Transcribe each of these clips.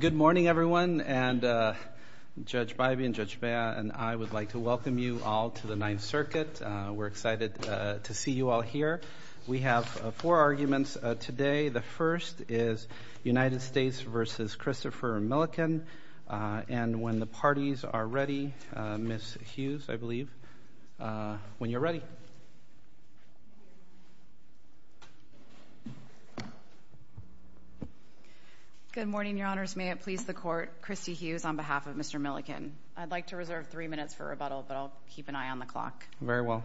Good morning everyone and Judge Bivey and Judge Bea and I would like to welcome you all to the Ninth Circuit. We're excited to see you all here. We have four arguments today. The first is United States v. Christopher Millican. And when the parties are ready, Ms. Hughes, I believe. When you're ready. Good morning, Your Honors. May it please the Court. Christy Hughes on behalf of Mr. Millican. I'd like to reserve three minutes for rebuttal, but I'll keep an eye on the clock. Very well.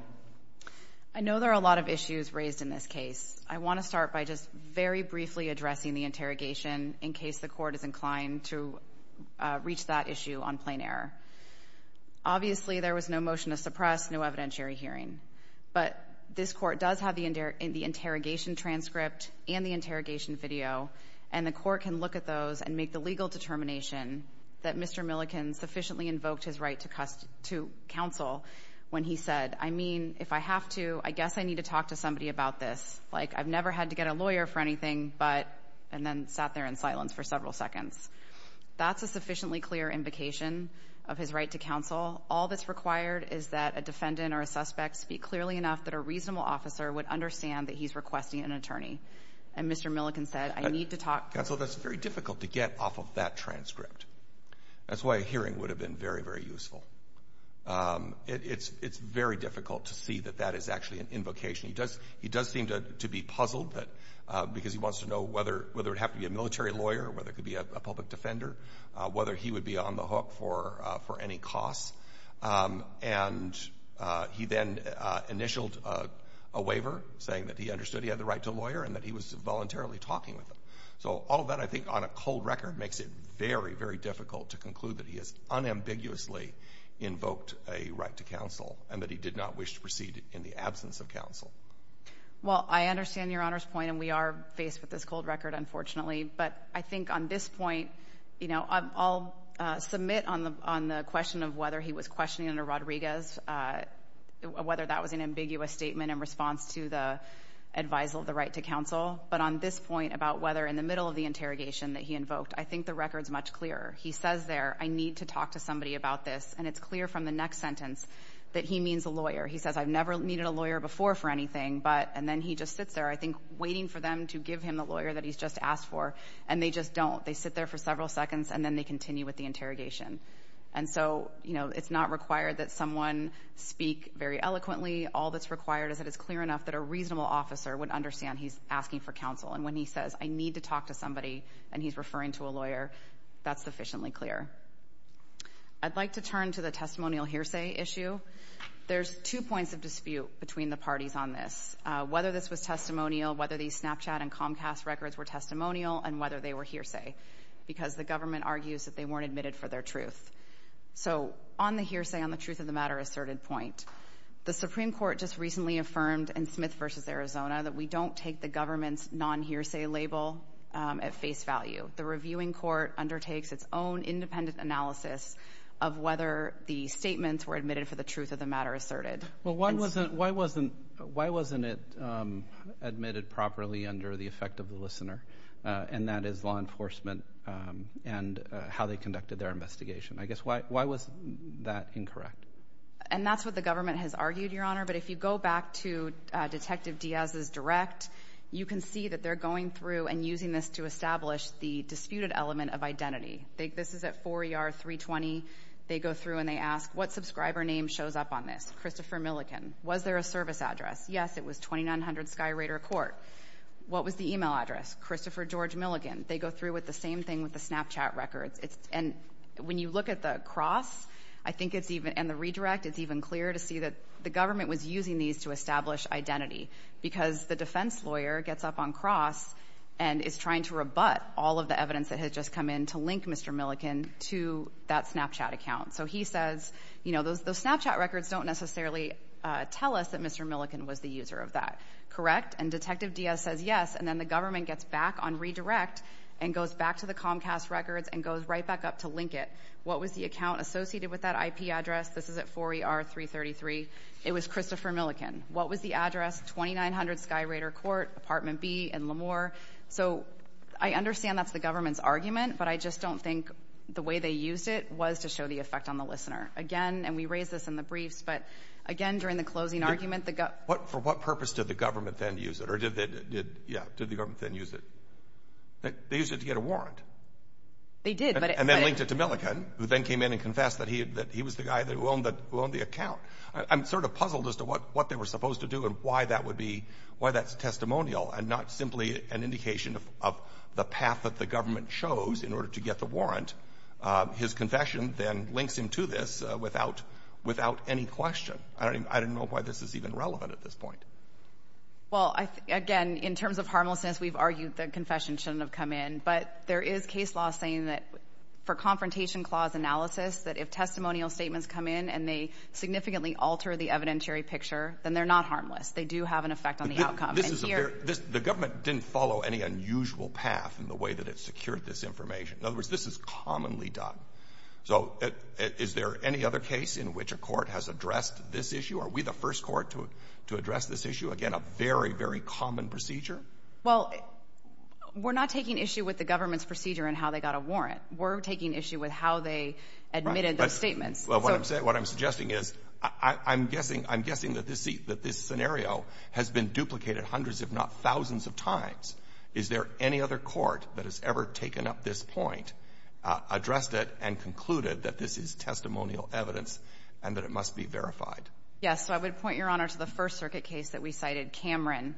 I know there are a lot of issues raised in this case. I want to start by just very briefly addressing the interrogation in case the Court is inclined to reach that issue on plain error. Obviously, there was no motion to suppress, no evidentiary hearing. But this Court does have the interrogation transcript and the interrogation video, and the Court can look at those and make the legal determination that Mr. Millican sufficiently invoked his right to counsel when he said, I mean, if I have to, I guess I need to talk to somebody about this. Like, I've never had to get a lawyer for anything, but, and then sat there in silence for several seconds. That's a sufficiently clear invocation of his right to counsel. All that's required is that a defendant or a suspect speak clearly enough that a reasonable officer would understand that he's requesting an attorney. And Mr. Millican said, I need to talk. Counsel, that's very difficult to get off of that transcript. That's why a hearing would have been very, very useful. It's very difficult to see that that is actually an invocation. He does seem to be puzzled because he wants to know whether it would have to be a military lawyer or whether it could be a public defender, whether he would be on the hook for any costs. And he then initialed a waiver saying that he understood he had the right to a lawyer and that he was voluntarily talking with him. So all of that, I think, on a cold record makes it very, very difficult to conclude that he has unambiguously invoked a right to counsel and that he did not wish to proceed in the absence of counsel. Well, I understand Your Honor's point, and we are faced with this cold record, unfortunately. But I think on this point, you know, I'll submit on the question of whether he was questioning under Rodriguez, whether that was an ambiguous statement in response to the advisal of the right to counsel. But on this point about whether in the middle of the interrogation that he invoked, I think the record's much clearer. He says there, I need to talk to somebody about this. And it's clear from the next sentence that he means a lawyer. He says, I've never needed a lawyer before for anything. And then he just sits there, I think, waiting for them to give him the lawyer that he's just asked for. And they just don't. They sit there for several seconds, and then they continue with the interrogation. And so, you know, it's not required that someone speak very eloquently. All that's required is that it's clear enough that a reasonable officer would understand he's asking for counsel. And when he says, I need to talk to somebody, and he's referring to a lawyer, that's sufficiently clear. I'd like to turn to the testimonial hearsay issue. There's two points of dispute between the parties on this. Whether this was testimonial, whether these Snapchat and Comcast records were testimonial, and whether they were hearsay. Because the government argues that they weren't admitted for their truth. So on the hearsay, on the truth of the matter asserted point, the Supreme Court just recently affirmed in Smith v. Arizona that we don't take the government's non-hearsay label at face value. The reviewing court undertakes its own independent analysis of whether the statements were admitted for the truth of the matter asserted. Well, why wasn't it admitted properly under the effect of the listener? And that is law enforcement and how they conducted their investigation. I guess, why was that incorrect? And that's what the government has argued, Your Honor. But if you go back to Detective Diaz's direct, you can see that they're going through and using this to establish the disputed element of identity. This is at 4ER 320. They go through and they ask, what subscriber name shows up on this? Christopher Milligan. Was there a service address? Yes, it was 2900 Sky Raider Court. What was the email address? Christopher George Milligan. They go through with the same thing with the Snapchat records. And when you look at the cross, I think it's even, and the redirect, it's even clearer to see that the government was using these to establish identity. Because the defense lawyer gets up on cross and is trying to rebut all of the evidence that had just come in to link Mr. Milligan to that Snapchat account. So he says, you know, those Snapchat records don't necessarily tell us that Mr. Milligan was the user of that, correct? And Detective Diaz says yes, and then the government gets back on redirect and goes back to the Comcast records and goes right back up to link it. What was the account associated with that IP address? This is at 4ER333. It was Christopher Milligan. What was the address? 2900 Sky Raider Court, Apartment B in Lemoore. So I understand that's the government's argument, but I just don't think the way they used it was to show the effect on the listener. Again, and we raised this in the briefs, but again, during the closing argument, the gov... For what purpose did the government then use it, or did they, yeah, did the government then use it? They used it to get a warrant. They did, but... And then linked it to Milligan, who then came in and confessed that he was the guy that owned the account. I'm sort of puzzled as to what they were supposed to do and why that's testimonial and not simply an indication of the path that the government chose in order to get the warrant. His confession then links him to this without any question. I don't know why this is even relevant at this point. Well, again, in terms of harmlessness, we've argued that confession shouldn't have come in, but there is case law saying that for confrontation clause analysis, that if testimonial statements come in and they significantly alter the evidentiary picture, then they're not harmless. They do have an effect on the outcome. But this is a very... The government didn't follow any unusual path in the way that it secured this information. In other words, this is commonly done. So is there any other case in which a court has addressed this issue? Are we the first court to address this issue? Again, a very, very common procedure? Well, we're not taking issue with the government's procedure in how they got a warrant. We're taking issue with how they admitted those statements. Well, what I'm suggesting is I'm guessing that this scenario has been duplicated hundreds, if not thousands, of times. Is there any other court that has ever taken up this point, addressed it, and concluded that this is testimonial evidence and that it must be verified? Yes. So I would point, Your Honor, to the First Circuit case that we cited, Cameron.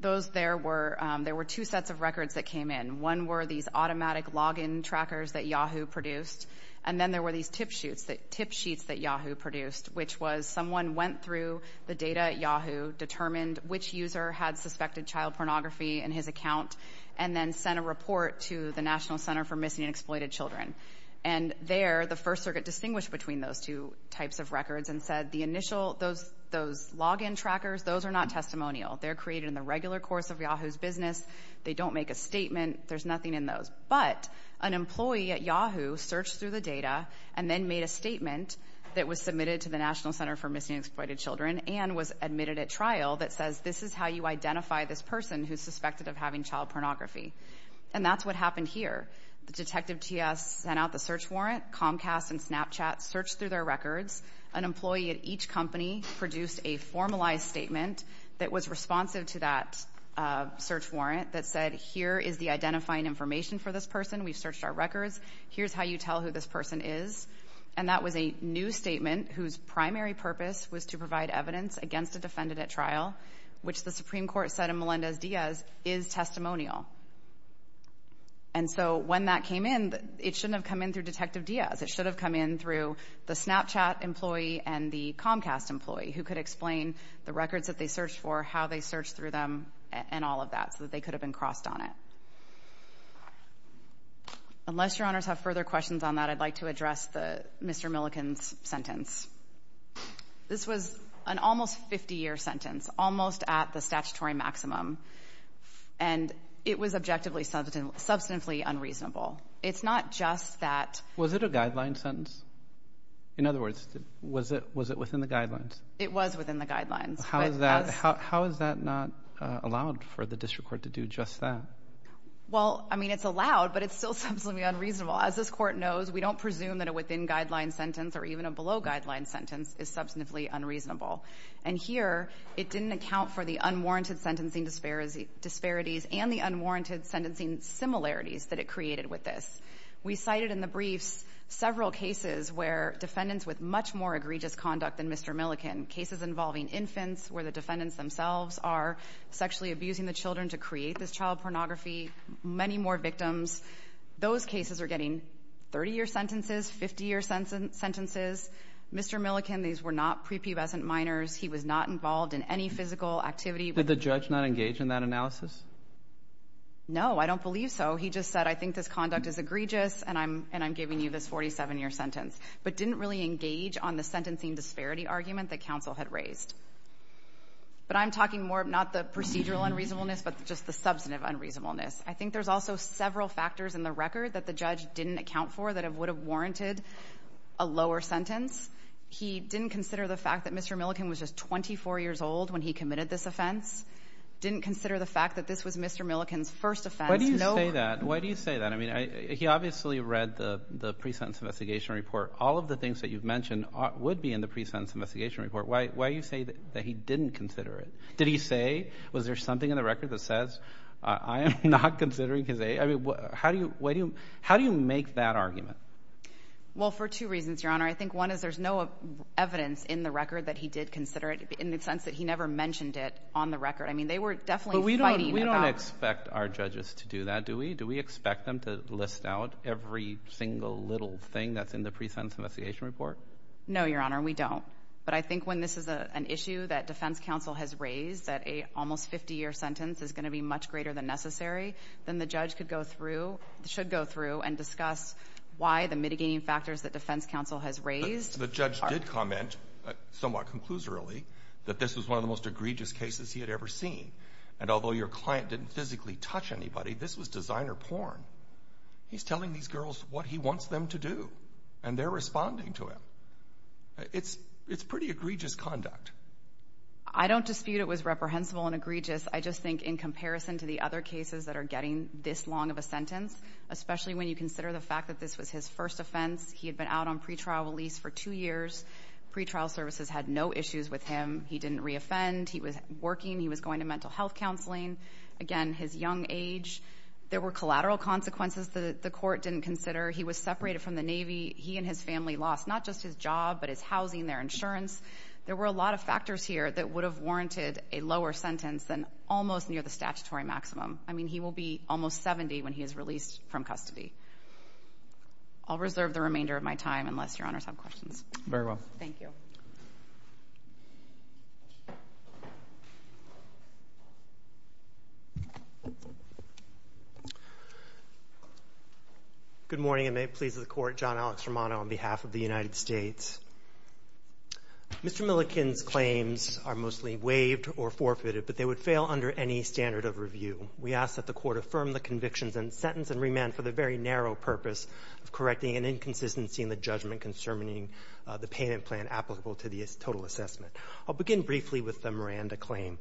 Those there were two sets of records that came in. One were these automatic login trackers that Yahoo produced. And then there were these tip sheets that Yahoo produced, which was someone went through the data at Yahoo, determined which user had suspected child pornography in his account, and then sent a report to the National Center for Missing and Exploited Children. And there, the First Circuit distinguished between those two types of records and said the initial... Those login trackers, those are not testimonial. They're created in the regular course of Yahoo's business. They don't make a statement. There's nothing in those. But an employee at Yahoo searched through the data and then made a statement that was submitted to the National Center for Missing and Exploited Children and was admitted at trial that says, this is how you identify this person who's suspected of having child pornography. And that's what happened here. The detective T.S. sent out the search warrant. Comcast and Snapchat searched through their records. An employee at each company produced a formalized statement that was responsive to that search warrant that said, here is the identifying information for this person. We've searched our records. Here's how you tell who this person is. And that was a new statement whose primary purpose was to provide evidence against a defendant at trial, which the Supreme Court said in Melendez-Diaz is testimonial. And so when that came in, it shouldn't have come in through Detective Diaz. It should have come in through the Snapchat employee and the Comcast employee who could explain the records that they searched for, how they searched through them, and all of that, so that they could have been crossed on it. Unless Your Honors have further questions on that, I'd like to address Mr. Milliken's This was an almost 50-year sentence, almost at the statutory maximum. And it was objectively substantially unreasonable. It's not just that — Was it a guideline sentence? In other words, was it within the guidelines? It was within the guidelines. How is that not allowed for the district court to do just that? Well, I mean, it's allowed, but it's still substantially unreasonable. As this Court knows, we don't presume that a within-guideline sentence or even a below-guideline sentence is substantively unreasonable. And here, it didn't account for the unwarranted sentencing disparities and the unwarranted sentencing similarities that it created with this. We cited in the briefs several cases where defendants with much more egregious conduct than Mr. Milliken, cases involving infants where the defendants themselves are sexually abusing the children to create this child pornography, many more victims. Those cases are getting 30-year sentences, 50-year sentences. Mr. Milliken, these were not prepubescent minors. He was not involved in any physical activity. Did the judge not engage in that analysis? No. I don't believe so. He just said, I think this conduct is egregious, and I'm giving you this 47-year sentence, but didn't really engage on the sentencing disparity argument that counsel had raised. But I'm talking more not the procedural unreasonableness, but just the substantive unreasonableness. I think there's also several factors in the record that the judge didn't account for that would have warranted a lower sentence. He didn't consider the fact that Mr. Milliken was just 24 years old when he committed this offense, didn't consider the fact that this was Mr. Milliken's first offense. No one else. Why do you say that? He obviously read the pre-sentence investigation report. All of the things that you've mentioned would be in the pre-sentence investigation report. Why do you say that he didn't consider it? Did he say, was there something in the record that says, I am not considering his age? How do you make that argument? Well, for two reasons, Your Honor. I think one is there's no evidence in the record that he did consider it, in the sense that he never mentioned it on the record. They were definitely fighting about it. We don't expect our judges to do that, do we? Do we expect them to list out every single little thing that's in the pre-sentence investigation report? No, Your Honor, we don't. But I think when this is an issue that defense counsel has raised, that a almost 50-year sentence is going to be much greater than necessary, then the judge could go through, should go through and discuss why the mitigating factors that defense counsel has raised. The judge did comment, somewhat conclusorily, that this was one of the most egregious cases he had ever seen. And although your client didn't physically touch anybody, this was designer porn. He's telling these girls what he wants them to do, and they're responding to him. It's pretty egregious conduct. I don't dispute it was reprehensible and egregious, I just think in comparison to the other cases that are getting this long of a sentence, especially when you consider the fact that this was his first offense, he had been out on pretrial release for two years, pretrial services had no issues with him, he didn't re-offend, he was working, he was going to mental health counseling, again, his young age, there were collateral consequences that the court didn't consider, he was separated from the Navy, he and his family lost not just his job, but his housing, their insurance, there were a lot of factors here that would have warranted a lower sentence than almost near the statutory maximum. I mean, he will be almost 70 when he is released from custody. I'll reserve the remainder of my time unless your honors have questions. Very well. Thank you. Good morning, and may it please the court, John Alex Romano on behalf of the United States. Mr. Milliken's claims are mostly waived or forfeited, but they would fail under any standard of review. We ask that the court affirm the convictions and sentence and remand for the very narrow purpose of correcting an inconsistency in the judgment concerning the payment plan applicable to the total assessment. I'll begin briefly with the Miranda claim.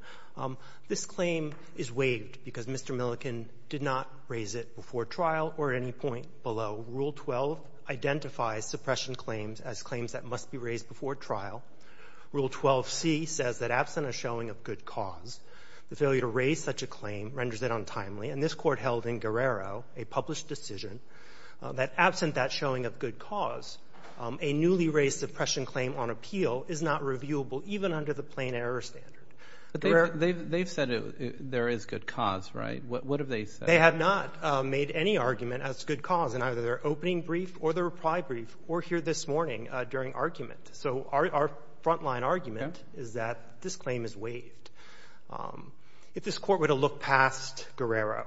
This claim is waived because Mr. Milliken did not raise it before trial or at any point below. Rule 12 identifies suppression claims as claims that must be raised before trial. Rule 12c says that absent a showing of good cause, the failure to raise such a claim renders it untimely. And this Court held in Guerrero, a published decision, that absent that showing of good cause, a newly raised suppression claim on appeal is not reviewable even under the plain error standard. They've said there is good cause, right? What have they said? They have not made any argument as to good cause in either their opening brief or their reply brief or here this morning during argument. So our front-line argument is that this claim is waived. If this Court were to look past Guerrero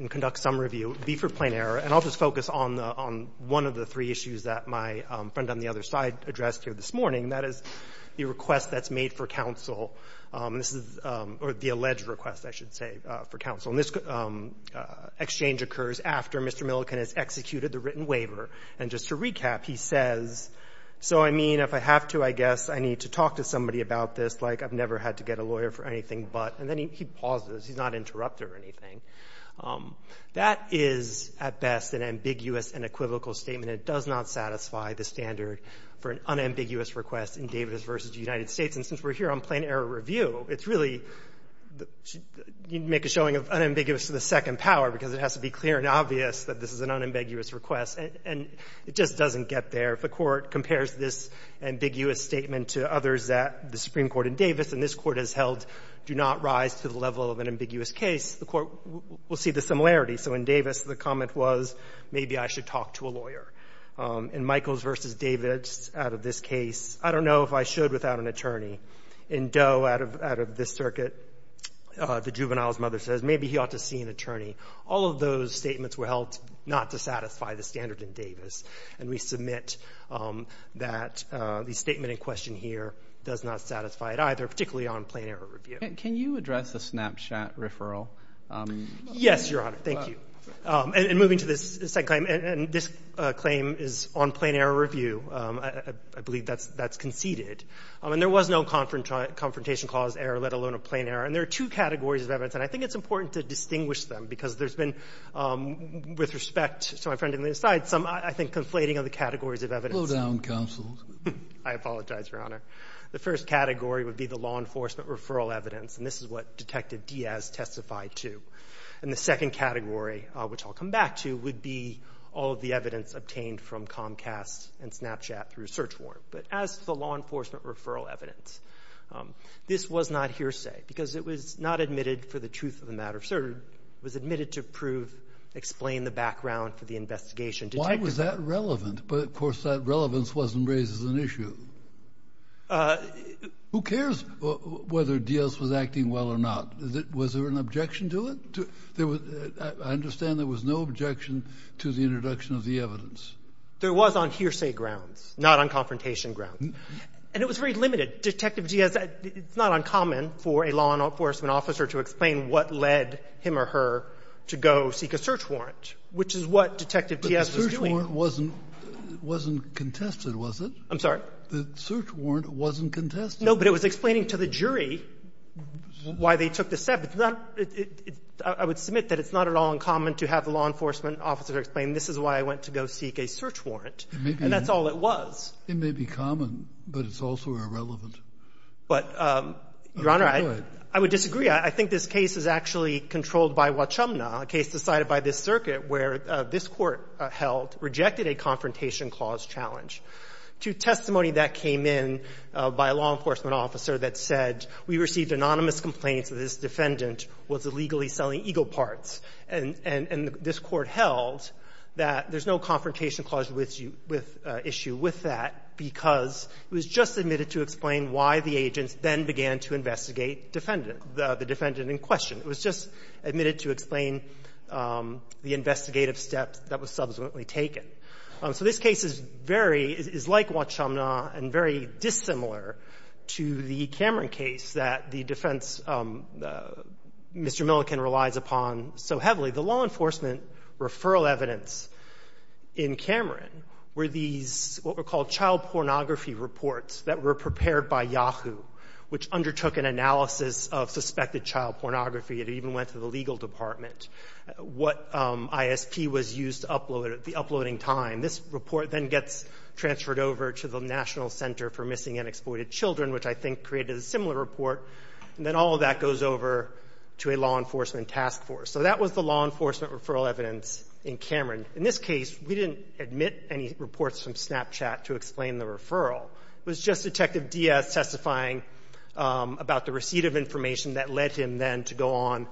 and conduct some review, it would be for plain error. And I'll just focus on the one of the three issues that my friend on the other side addressed here this morning, and that is the request that's made for counsel. This is the alleged request, I should say, for counsel. And this exchange occurs after Mr. Milliken has executed the written waiver. And just to recap, he says, so, I mean, if I have to, I guess I need to talk to somebody about this. Like, I've never had to get a lawyer for anything but. And then he pauses. He's not interrupted or anything. That is, at best, an ambiguous and equivocal statement. It does not satisfy the standard for an unambiguous request in Davis v. United States. And since we're here on plain error review, it's really the – you'd make a showing of unambiguous to the second power because it has to be clear and obvious that this is an unambiguous request. And it just doesn't get there. If the Court compares this ambiguous statement to others that the Supreme Court in Davis and this Court has held do not rise to the level of an ambiguous case, the Court will see the similarity. So in Davis, the comment was, maybe I should talk to a lawyer. In Michaels v. David, out of this case, I don't know if I should without an attorney. In Doe, out of this circuit, the juvenile's mother says, maybe he ought to see an attorney. All of those statements were held not to satisfy the standard in Davis. And we submit that the statement in question here does not satisfy it either, particularly on plain error review. Can you address the Snapchat referral? Yes, Your Honor. Thank you. And moving to this second claim, and this claim is on plain error review. I believe that's conceded. And there was no confrontation clause error, let alone a plain error. And there are two categories of evidence, and I think it's important to distinguish them because there's been, with respect to my friend on the other side, some, I think, conflating of the categories of evidence. Blowdown counsels. I apologize, Your Honor. The first category would be the law enforcement referral evidence, and this is what Detective Diaz testified to. And the second category, which I'll come back to, would be all of the evidence obtained from Comcast and Snapchat through search warrant. But as for law enforcement referral evidence, this was not hearsay because it was not admitted for the truth of the matter. It was admitted to prove, explain the background for the investigation. Why was that relevant? But, of course, that relevance wasn't raised as an issue. Who cares whether Diaz was acting well or not? Was there an objection to it? I understand there was no objection to the introduction of the evidence. There was on hearsay grounds, not on confrontation grounds. And it was very limited. Detective Diaz, it's not uncommon for a law enforcement officer to explain what led him or her to go seek a search warrant, which is what Detective Diaz was doing. The search warrant wasn't contested, was it? I'm sorry? The search warrant wasn't contested. No, but it was explaining to the jury why they took the step. It's not – I would submit that it's not at all uncommon to have a law enforcement officer explain this is why I went to go seek a search warrant, and that's all it was. It may be common, but it's also irrelevant. But, Your Honor, I would disagree. I think this case is actually controlled by Wachumna, a case decided by this circuit where this Court held – rejected a confrontation clause challenge to testimony that came in by a law enforcement officer that said, we received anonymous complaints that this defendant was illegally selling ego parts. And this Court held that there's no confrontation clause issue with that because it was just admitted to explain why the agents then began to investigate defendant – the defendant in question. It was just admitted to explain the investigative steps that was subsequently taken. So this case is very – is like Wachumna and very dissimilar to the Cameron case that the defense, Mr. Milliken, relies upon so heavily. The law enforcement referral evidence in Cameron were these what were called child pornography reports that were prepared by Yahoo, which undertook an analysis of suspected child pornography. It even went to the legal department. What ISP was used to upload at the uploading time. This report then gets transferred over to the National Center for Missing and Exploited Children, which I think created a similar report. And then all of that goes over to a law enforcement task force. So that was the law enforcement referral evidence in Cameron. In this case, we didn't admit any reports from Snapchat to explain the referral. It was just Detective Diaz testifying about the receipt of information that led him then to go on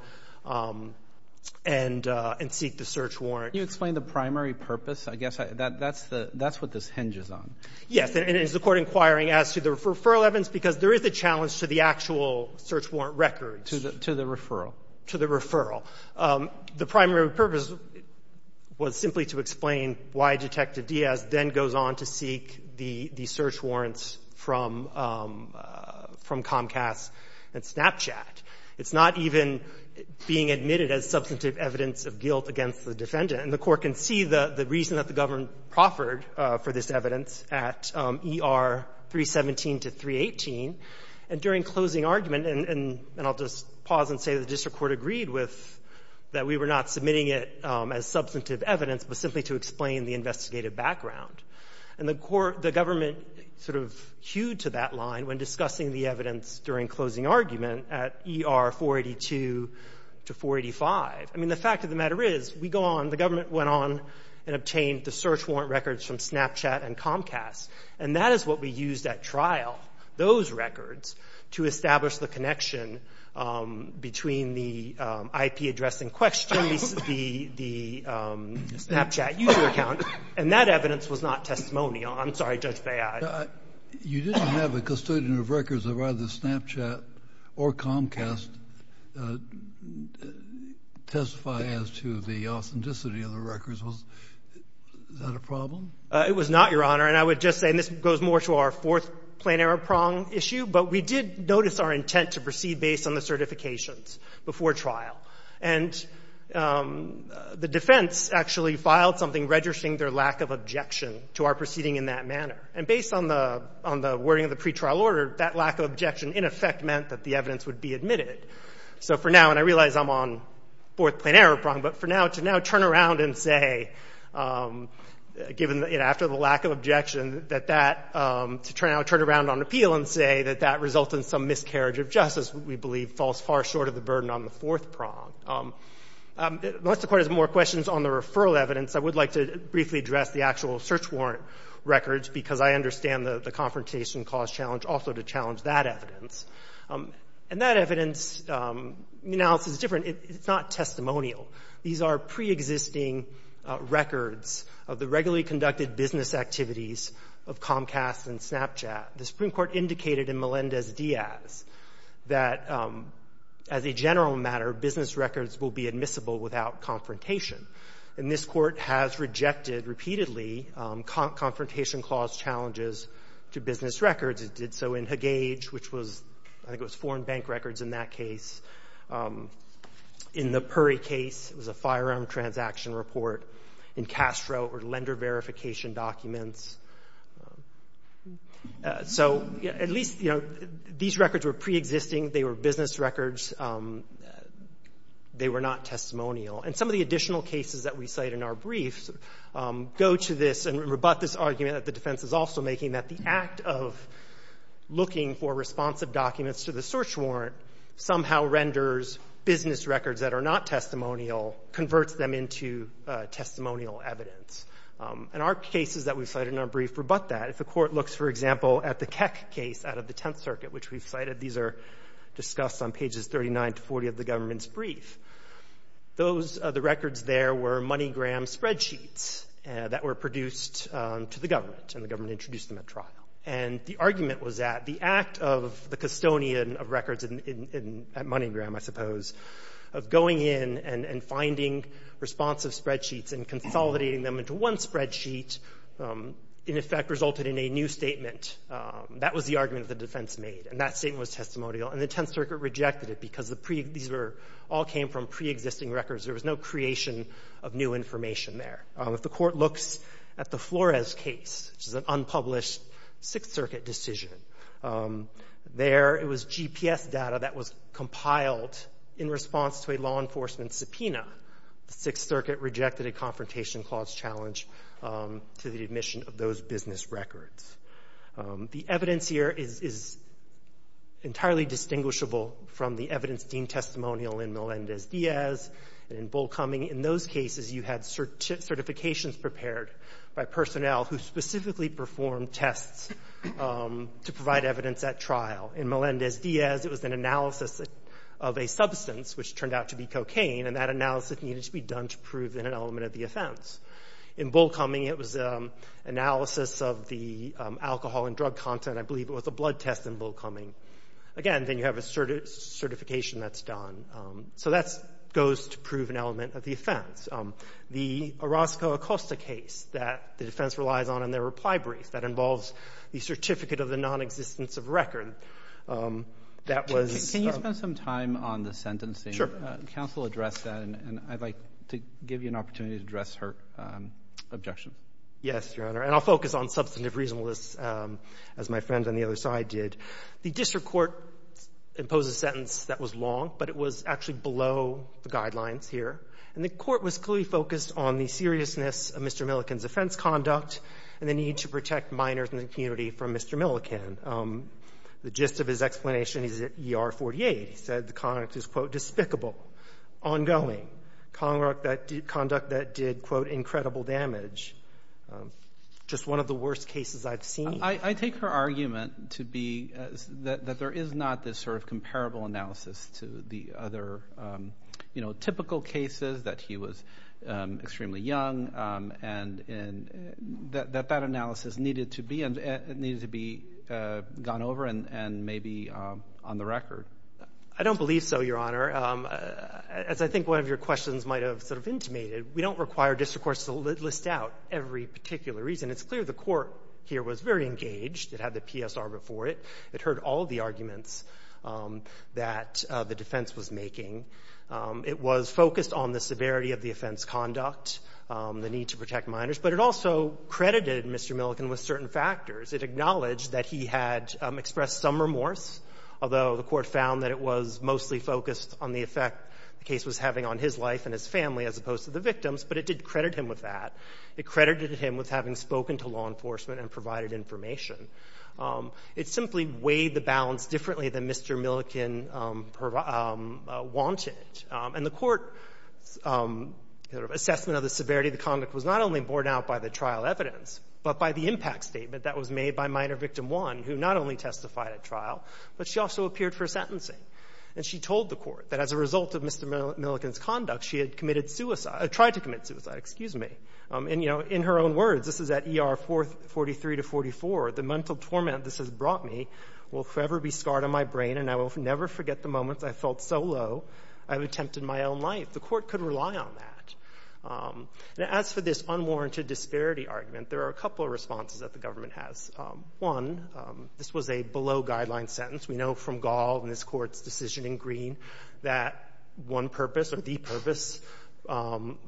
and seek the search warrant. You explain the primary purpose. I guess that's the – that's what this hinges on. Yes. And it is the Court inquiring as to the referral evidence, because there is a challenge to the actual search warrant records. To the referral. To the referral. The primary purpose was simply to explain why Detective Diaz then goes on to seek the – the search warrants from – from Comcast and Snapchat. It's not even being admitted as substantive evidence of guilt against the defendant. And the Court can see the reason that the government proffered for this evidence at ER 317 to 318. And during closing argument – and I'll just pause and say the district court agreed with that we were not submitting it as substantive evidence, but simply to explain the investigative background. And the Court – the government sort of hewed to that line when discussing the evidence during closing argument at ER 482 to 485. I mean, the fact of the matter is, we go on, the government went on and obtained the search warrant records from Snapchat and Comcast. And that is what we used at trial, those records, to establish the connection between the IP addressing question, the – the Snapchat user account. And that evidence was not testimonial. I'm sorry, Judge Bayhi. You didn't have a custodian of records of either Snapchat or Comcast testify as to the authenticity of the records. Was that a problem? It was not, Your Honor. And I would just say – and this goes more to our fourth plenary prong issue, but we did notice our intent to proceed based on the certifications before trial. And the defense actually filed something registering their lack of objection to our proceeding in that manner. And based on the – on the wording of the pretrial order, that lack of objection in effect meant that the evidence would be admitted. So for now – and I realize I'm on fourth plenary prong, but for now, to now turn around and say, given the – after the lack of objection, that that – to now turn around on appeal and say that that resulted in some miscarriage of justice we believe falls far short of the burden on the fourth prong. Unless the Court has more questions on the referral evidence, I would like to briefly address the actual search warrant records because I understand the confrontation cause challenge also to challenge that evidence. And that evidence analysis is different. It's not testimonial. These are preexisting records of the regularly conducted business activities of Comcast and Snapchat. The Supreme Court indicated in Melendez-Diaz that as a general matter, business records will be admissible without confrontation. And this Court has rejected repeatedly confrontation clause challenges to business records. It did so in Hagege, which was – I think it was foreign bank records in that case. In the Puri case, it was a firearm transaction report. In Castro, it were lender verification documents. So at least, you know, these records were preexisting. They were business records. They were not testimonial. And some of the additional cases that we cite in our briefs go to this and rebut this argument that the defense is also making that the act of looking for responsive documents to the search warrant somehow renders business records that are not testimonial, converts them into testimonial evidence. And our cases that we cite in our brief rebut that. If the Court looks, for example, at the Keck case out of the Tenth Circuit, which we've cited, these are discussed on pages 39 to 40 of the government's brief. Those – the records there were MoneyGram spreadsheets that were produced to the government, and the government introduced them at trial. And the argument was that the act of the custodian of records at MoneyGram, I suppose, of going in and finding responsive spreadsheets and consolidating them into one spreadsheet, in effect, resulted in a new statement. That was the argument that the defense made. And that statement was testimonial. And the Tenth Circuit rejected it because the pre – these were – all came from preexisting records. There was no creation of new information there. If the Court looks at the Flores case, which is an unpublished Sixth Circuit decision, there it was GPS data that was compiled in response to a law enforcement subpoena. The Sixth Circuit rejected a Confrontation Clause challenge to the admission of those business records. The evidence here is entirely distinguishable from the evidence deemed testimonial in Melendez-Diaz and in Bull Cumming. In those cases, you had certifications prepared by personnel who specifically performed tests to provide evidence at trial. In Melendez-Diaz, it was an analysis of a substance, which turned out to be cocaine, and that analysis needed to be done to prove an element of the offense. In Bull Cumming, it was analysis of the alcohol and drug content, I believe it was a blood test in Bull Cumming. Again, then you have a certification that's done. So that goes to prove an element of the offense. The Orozco-Acosta case that the defense relies on in their reply brief, that involves the certificate of the nonexistence of record, that was the one that was used in the Can you spend some time on the sentencing? Sure. The counsel addressed that, and I'd like to give you an opportunity to address her objections. Yes, Your Honor. And I'll focus on substantive reasonableness, as my friend on the other side did. The district court imposed a sentence that was long, but it was actually below the guidelines here. And the court was clearly focused on the seriousness of Mr. Milliken's offense conduct and the need to protect minors in the community from Mr. Milliken. The gist of his explanation is that ER-48 said the conduct is, quote, despicable, ongoing, conduct that did, quote, incredible damage. Just one of the worst cases I've seen. I take her argument to be that there is not this sort of comparable analysis to the other, you know, typical cases, that he was extremely young, and that that analysis needed to be gone over and maybe on the record. I don't believe so, Your Honor. As I think one of your questions might have sort of intimated, we don't require district courts to list out every particular reason. It's clear the court here was very engaged. It had the PSR before it. It heard all of the arguments that the defense was making. It was focused on the severity of the offense conduct, the need to protect minors, but it also credited Mr. Milliken with certain factors. It acknowledged that he had expressed some remorse, although the court found that it was mostly focused on the effect the case was having on his life and his family as opposed to the victim's, but it did credit him with that. It credited him with having spoken to law enforcement and provided information. It simply weighed the balance differently than Mr. Milliken wanted. And the court's assessment of the severity of the conduct was not only borne out by the trial evidence, but by the impact statement that was made by Minor Victim 1, who not only testified at trial, but she also appeared for sentencing. And she told the court that as a result of Mr. Milliken's conduct, she had committed suicide or tried to commit suicide, excuse me. And, you know, in her own words, this is at ER 43 to 44, the mental torment this has brought me will forever be scarred on my brain and I will never forget the moments I felt so low I've attempted my own life. The court could rely on that. And as for this unwarranted disparity argument, there are a couple of responses that the government has. One, this was a below-guideline sentence. We know from Gall and this court's decision in Green that one purpose or the purpose of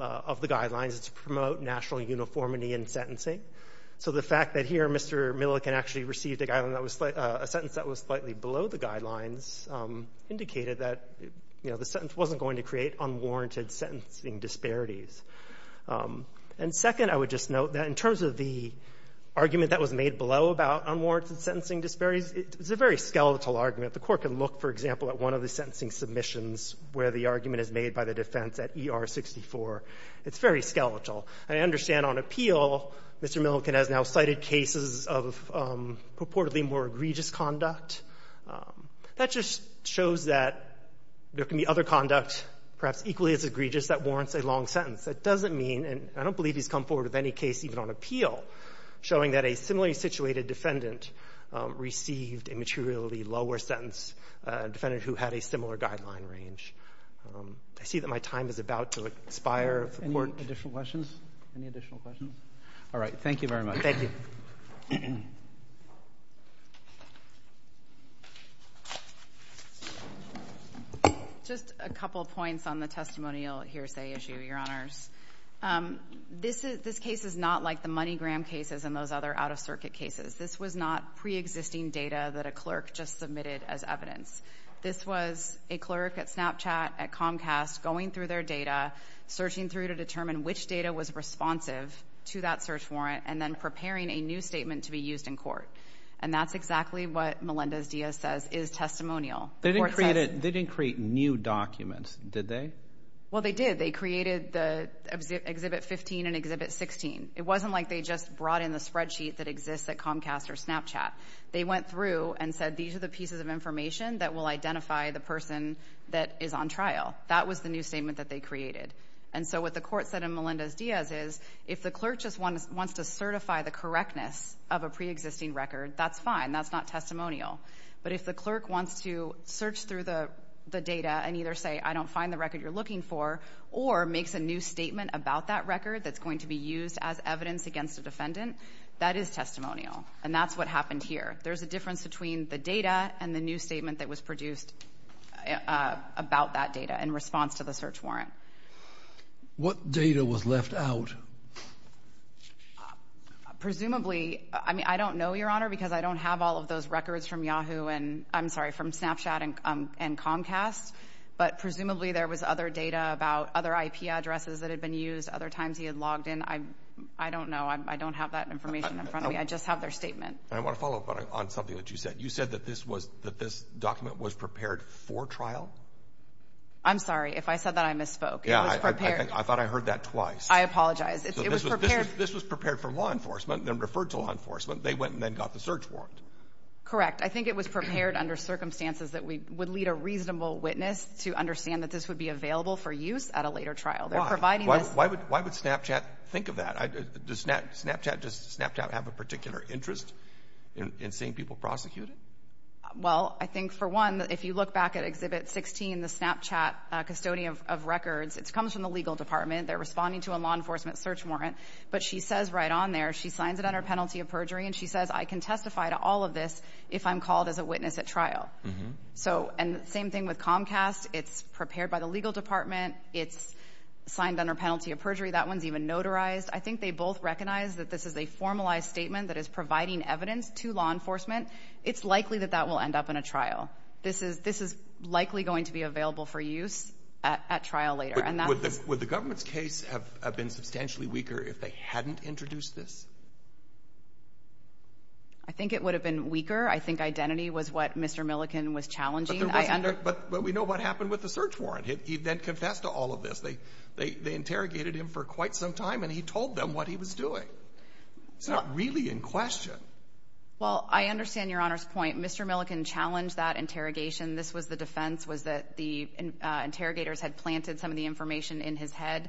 the guidelines is to promote national uniformity in sentencing. So the fact that here Mr. Milliken actually received a guideline that was a sentence that was slightly below the guidelines indicated that, you know, the sentence wasn't going to create unwarranted sentencing disparities. And second, I would just note that in terms of the argument that was made below about unwarranted sentencing disparities, it's a very skeletal argument. The court can look, for example, at one of the sentencing submissions where the argument is made by the defense at ER 64. It's very skeletal. And I understand on appeal, Mr. Milliken has now cited cases of purportedly more egregious conduct. That just shows that there can be other conduct, perhaps equally as egregious, that warrants a long sentence. That doesn't mean, and I don't believe he's come forward with any case even on appeal, showing that a similarly situated defendant received a materially lower sentence, a defendant who had a similar guideline range. I see that my time is about to expire. Any additional questions? Any additional questions? All right. Thank you very much. Just a couple of points on the testimonial hearsay issue, Your Honors. This case is not like the MoneyGram cases and those other out-of-circuit cases. This was not pre-existing data that a clerk just submitted as evidence. This was a clerk at Snapchat, at Comcast, going through their data, searching through to determine which data was responsive to that search warrant, and then preparing a new statement to be used in court. And that's exactly what Melendez-Diaz says is testimonial. They didn't create new documents, did they? Well, they did. They created the Exhibit 15 and Exhibit 16. It wasn't like they just brought in the spreadsheet that exists at Comcast or Snapchat. They went through and said, these are the pieces of information that will identify the person that is on trial. That was the new statement that they created. And so what the court said in Melendez-Diaz is, if the clerk just wants to certify the correctness of a pre-existing record, that's fine, that's not testimonial. But if the clerk wants to search through the data and either say I don't find the record you're looking for, or makes a new statement about that record that's going to be used as evidence against a defendant, that is testimonial. And that's what happened here. There's a difference between the data and the new statement that was produced about that data in response to the search warrant. What data was left out? Presumably, I mean, I don't know, Your Honor, because I don't have all of those records from Yahoo and, I'm sorry, from Snapchat and Comcast. But presumably there was other data about other IP addresses that had been used, other times he had logged in. I don't know. I don't have that information in front of me. I just have their statement. I want to follow up on something that you said. You said that this document was prepared for trial? I'm sorry, if I said that I misspoke. Yeah, I thought I heard that twice. I apologize. This was prepared for law enforcement, then referred to law enforcement. They went and then got the search warrant. Correct, I think it was prepared under circumstances that would lead a reasonable witness to understand that this would be available for use at a later trial. They're providing this- Why would Snapchat think of that? Does Snapchat have a particular interest in seeing people prosecuted? Well, I think for one, if you look back at Exhibit 16, the Snapchat custodian of records, it comes from the legal department. They're responding to a law enforcement search warrant. But she says right on there, she signs it under penalty of perjury. And she says, I can testify to all of this if I'm called as a witness at trial. So, and same thing with Comcast. It's prepared by the legal department. It's signed under penalty of perjury. That one's even notarized. I think they both recognize that this is a formalized statement that is providing evidence to law enforcement. It's likely that that will end up in a trial. This is likely going to be available for use at trial later. And that's- Would the government's case have been substantially weaker if they hadn't introduced this? I think it would have been weaker. I think identity was what Mr. Milliken was challenging. But we know what happened with the search warrant. He then confessed to all of this. They interrogated him for quite some time. And he told them what he was doing. It's not really in question. Well, I understand Your Honor's point. Mr. Milliken challenged that interrogation. This was the defense was that the interrogators had planted some of the information in his head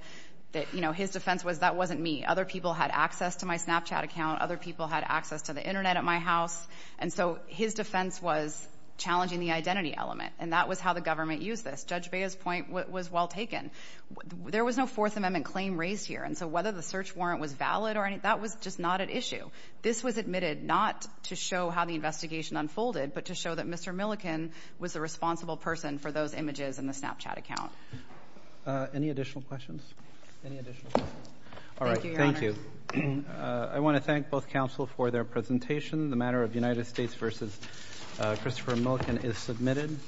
that, you know, his defense was that wasn't me. Other people had access to my Snapchat account. Other people had access to the internet at my house. And so, his defense was challenging the identity element. And that was how the government used this. Judge Bea's point was well taken. There was no Fourth Amendment claim raised here. And so, whether the search warrant was valid or any, that was just not an issue. This was admitted not to show how the investigation unfolded, but to show that Mr. Milliken was the responsible person for those images in the Snapchat account. Any additional questions? Any additional questions? All right. Thank you. I want to thank both counsel for their presentation. The matter of United States versus Christopher Milliken is submitted.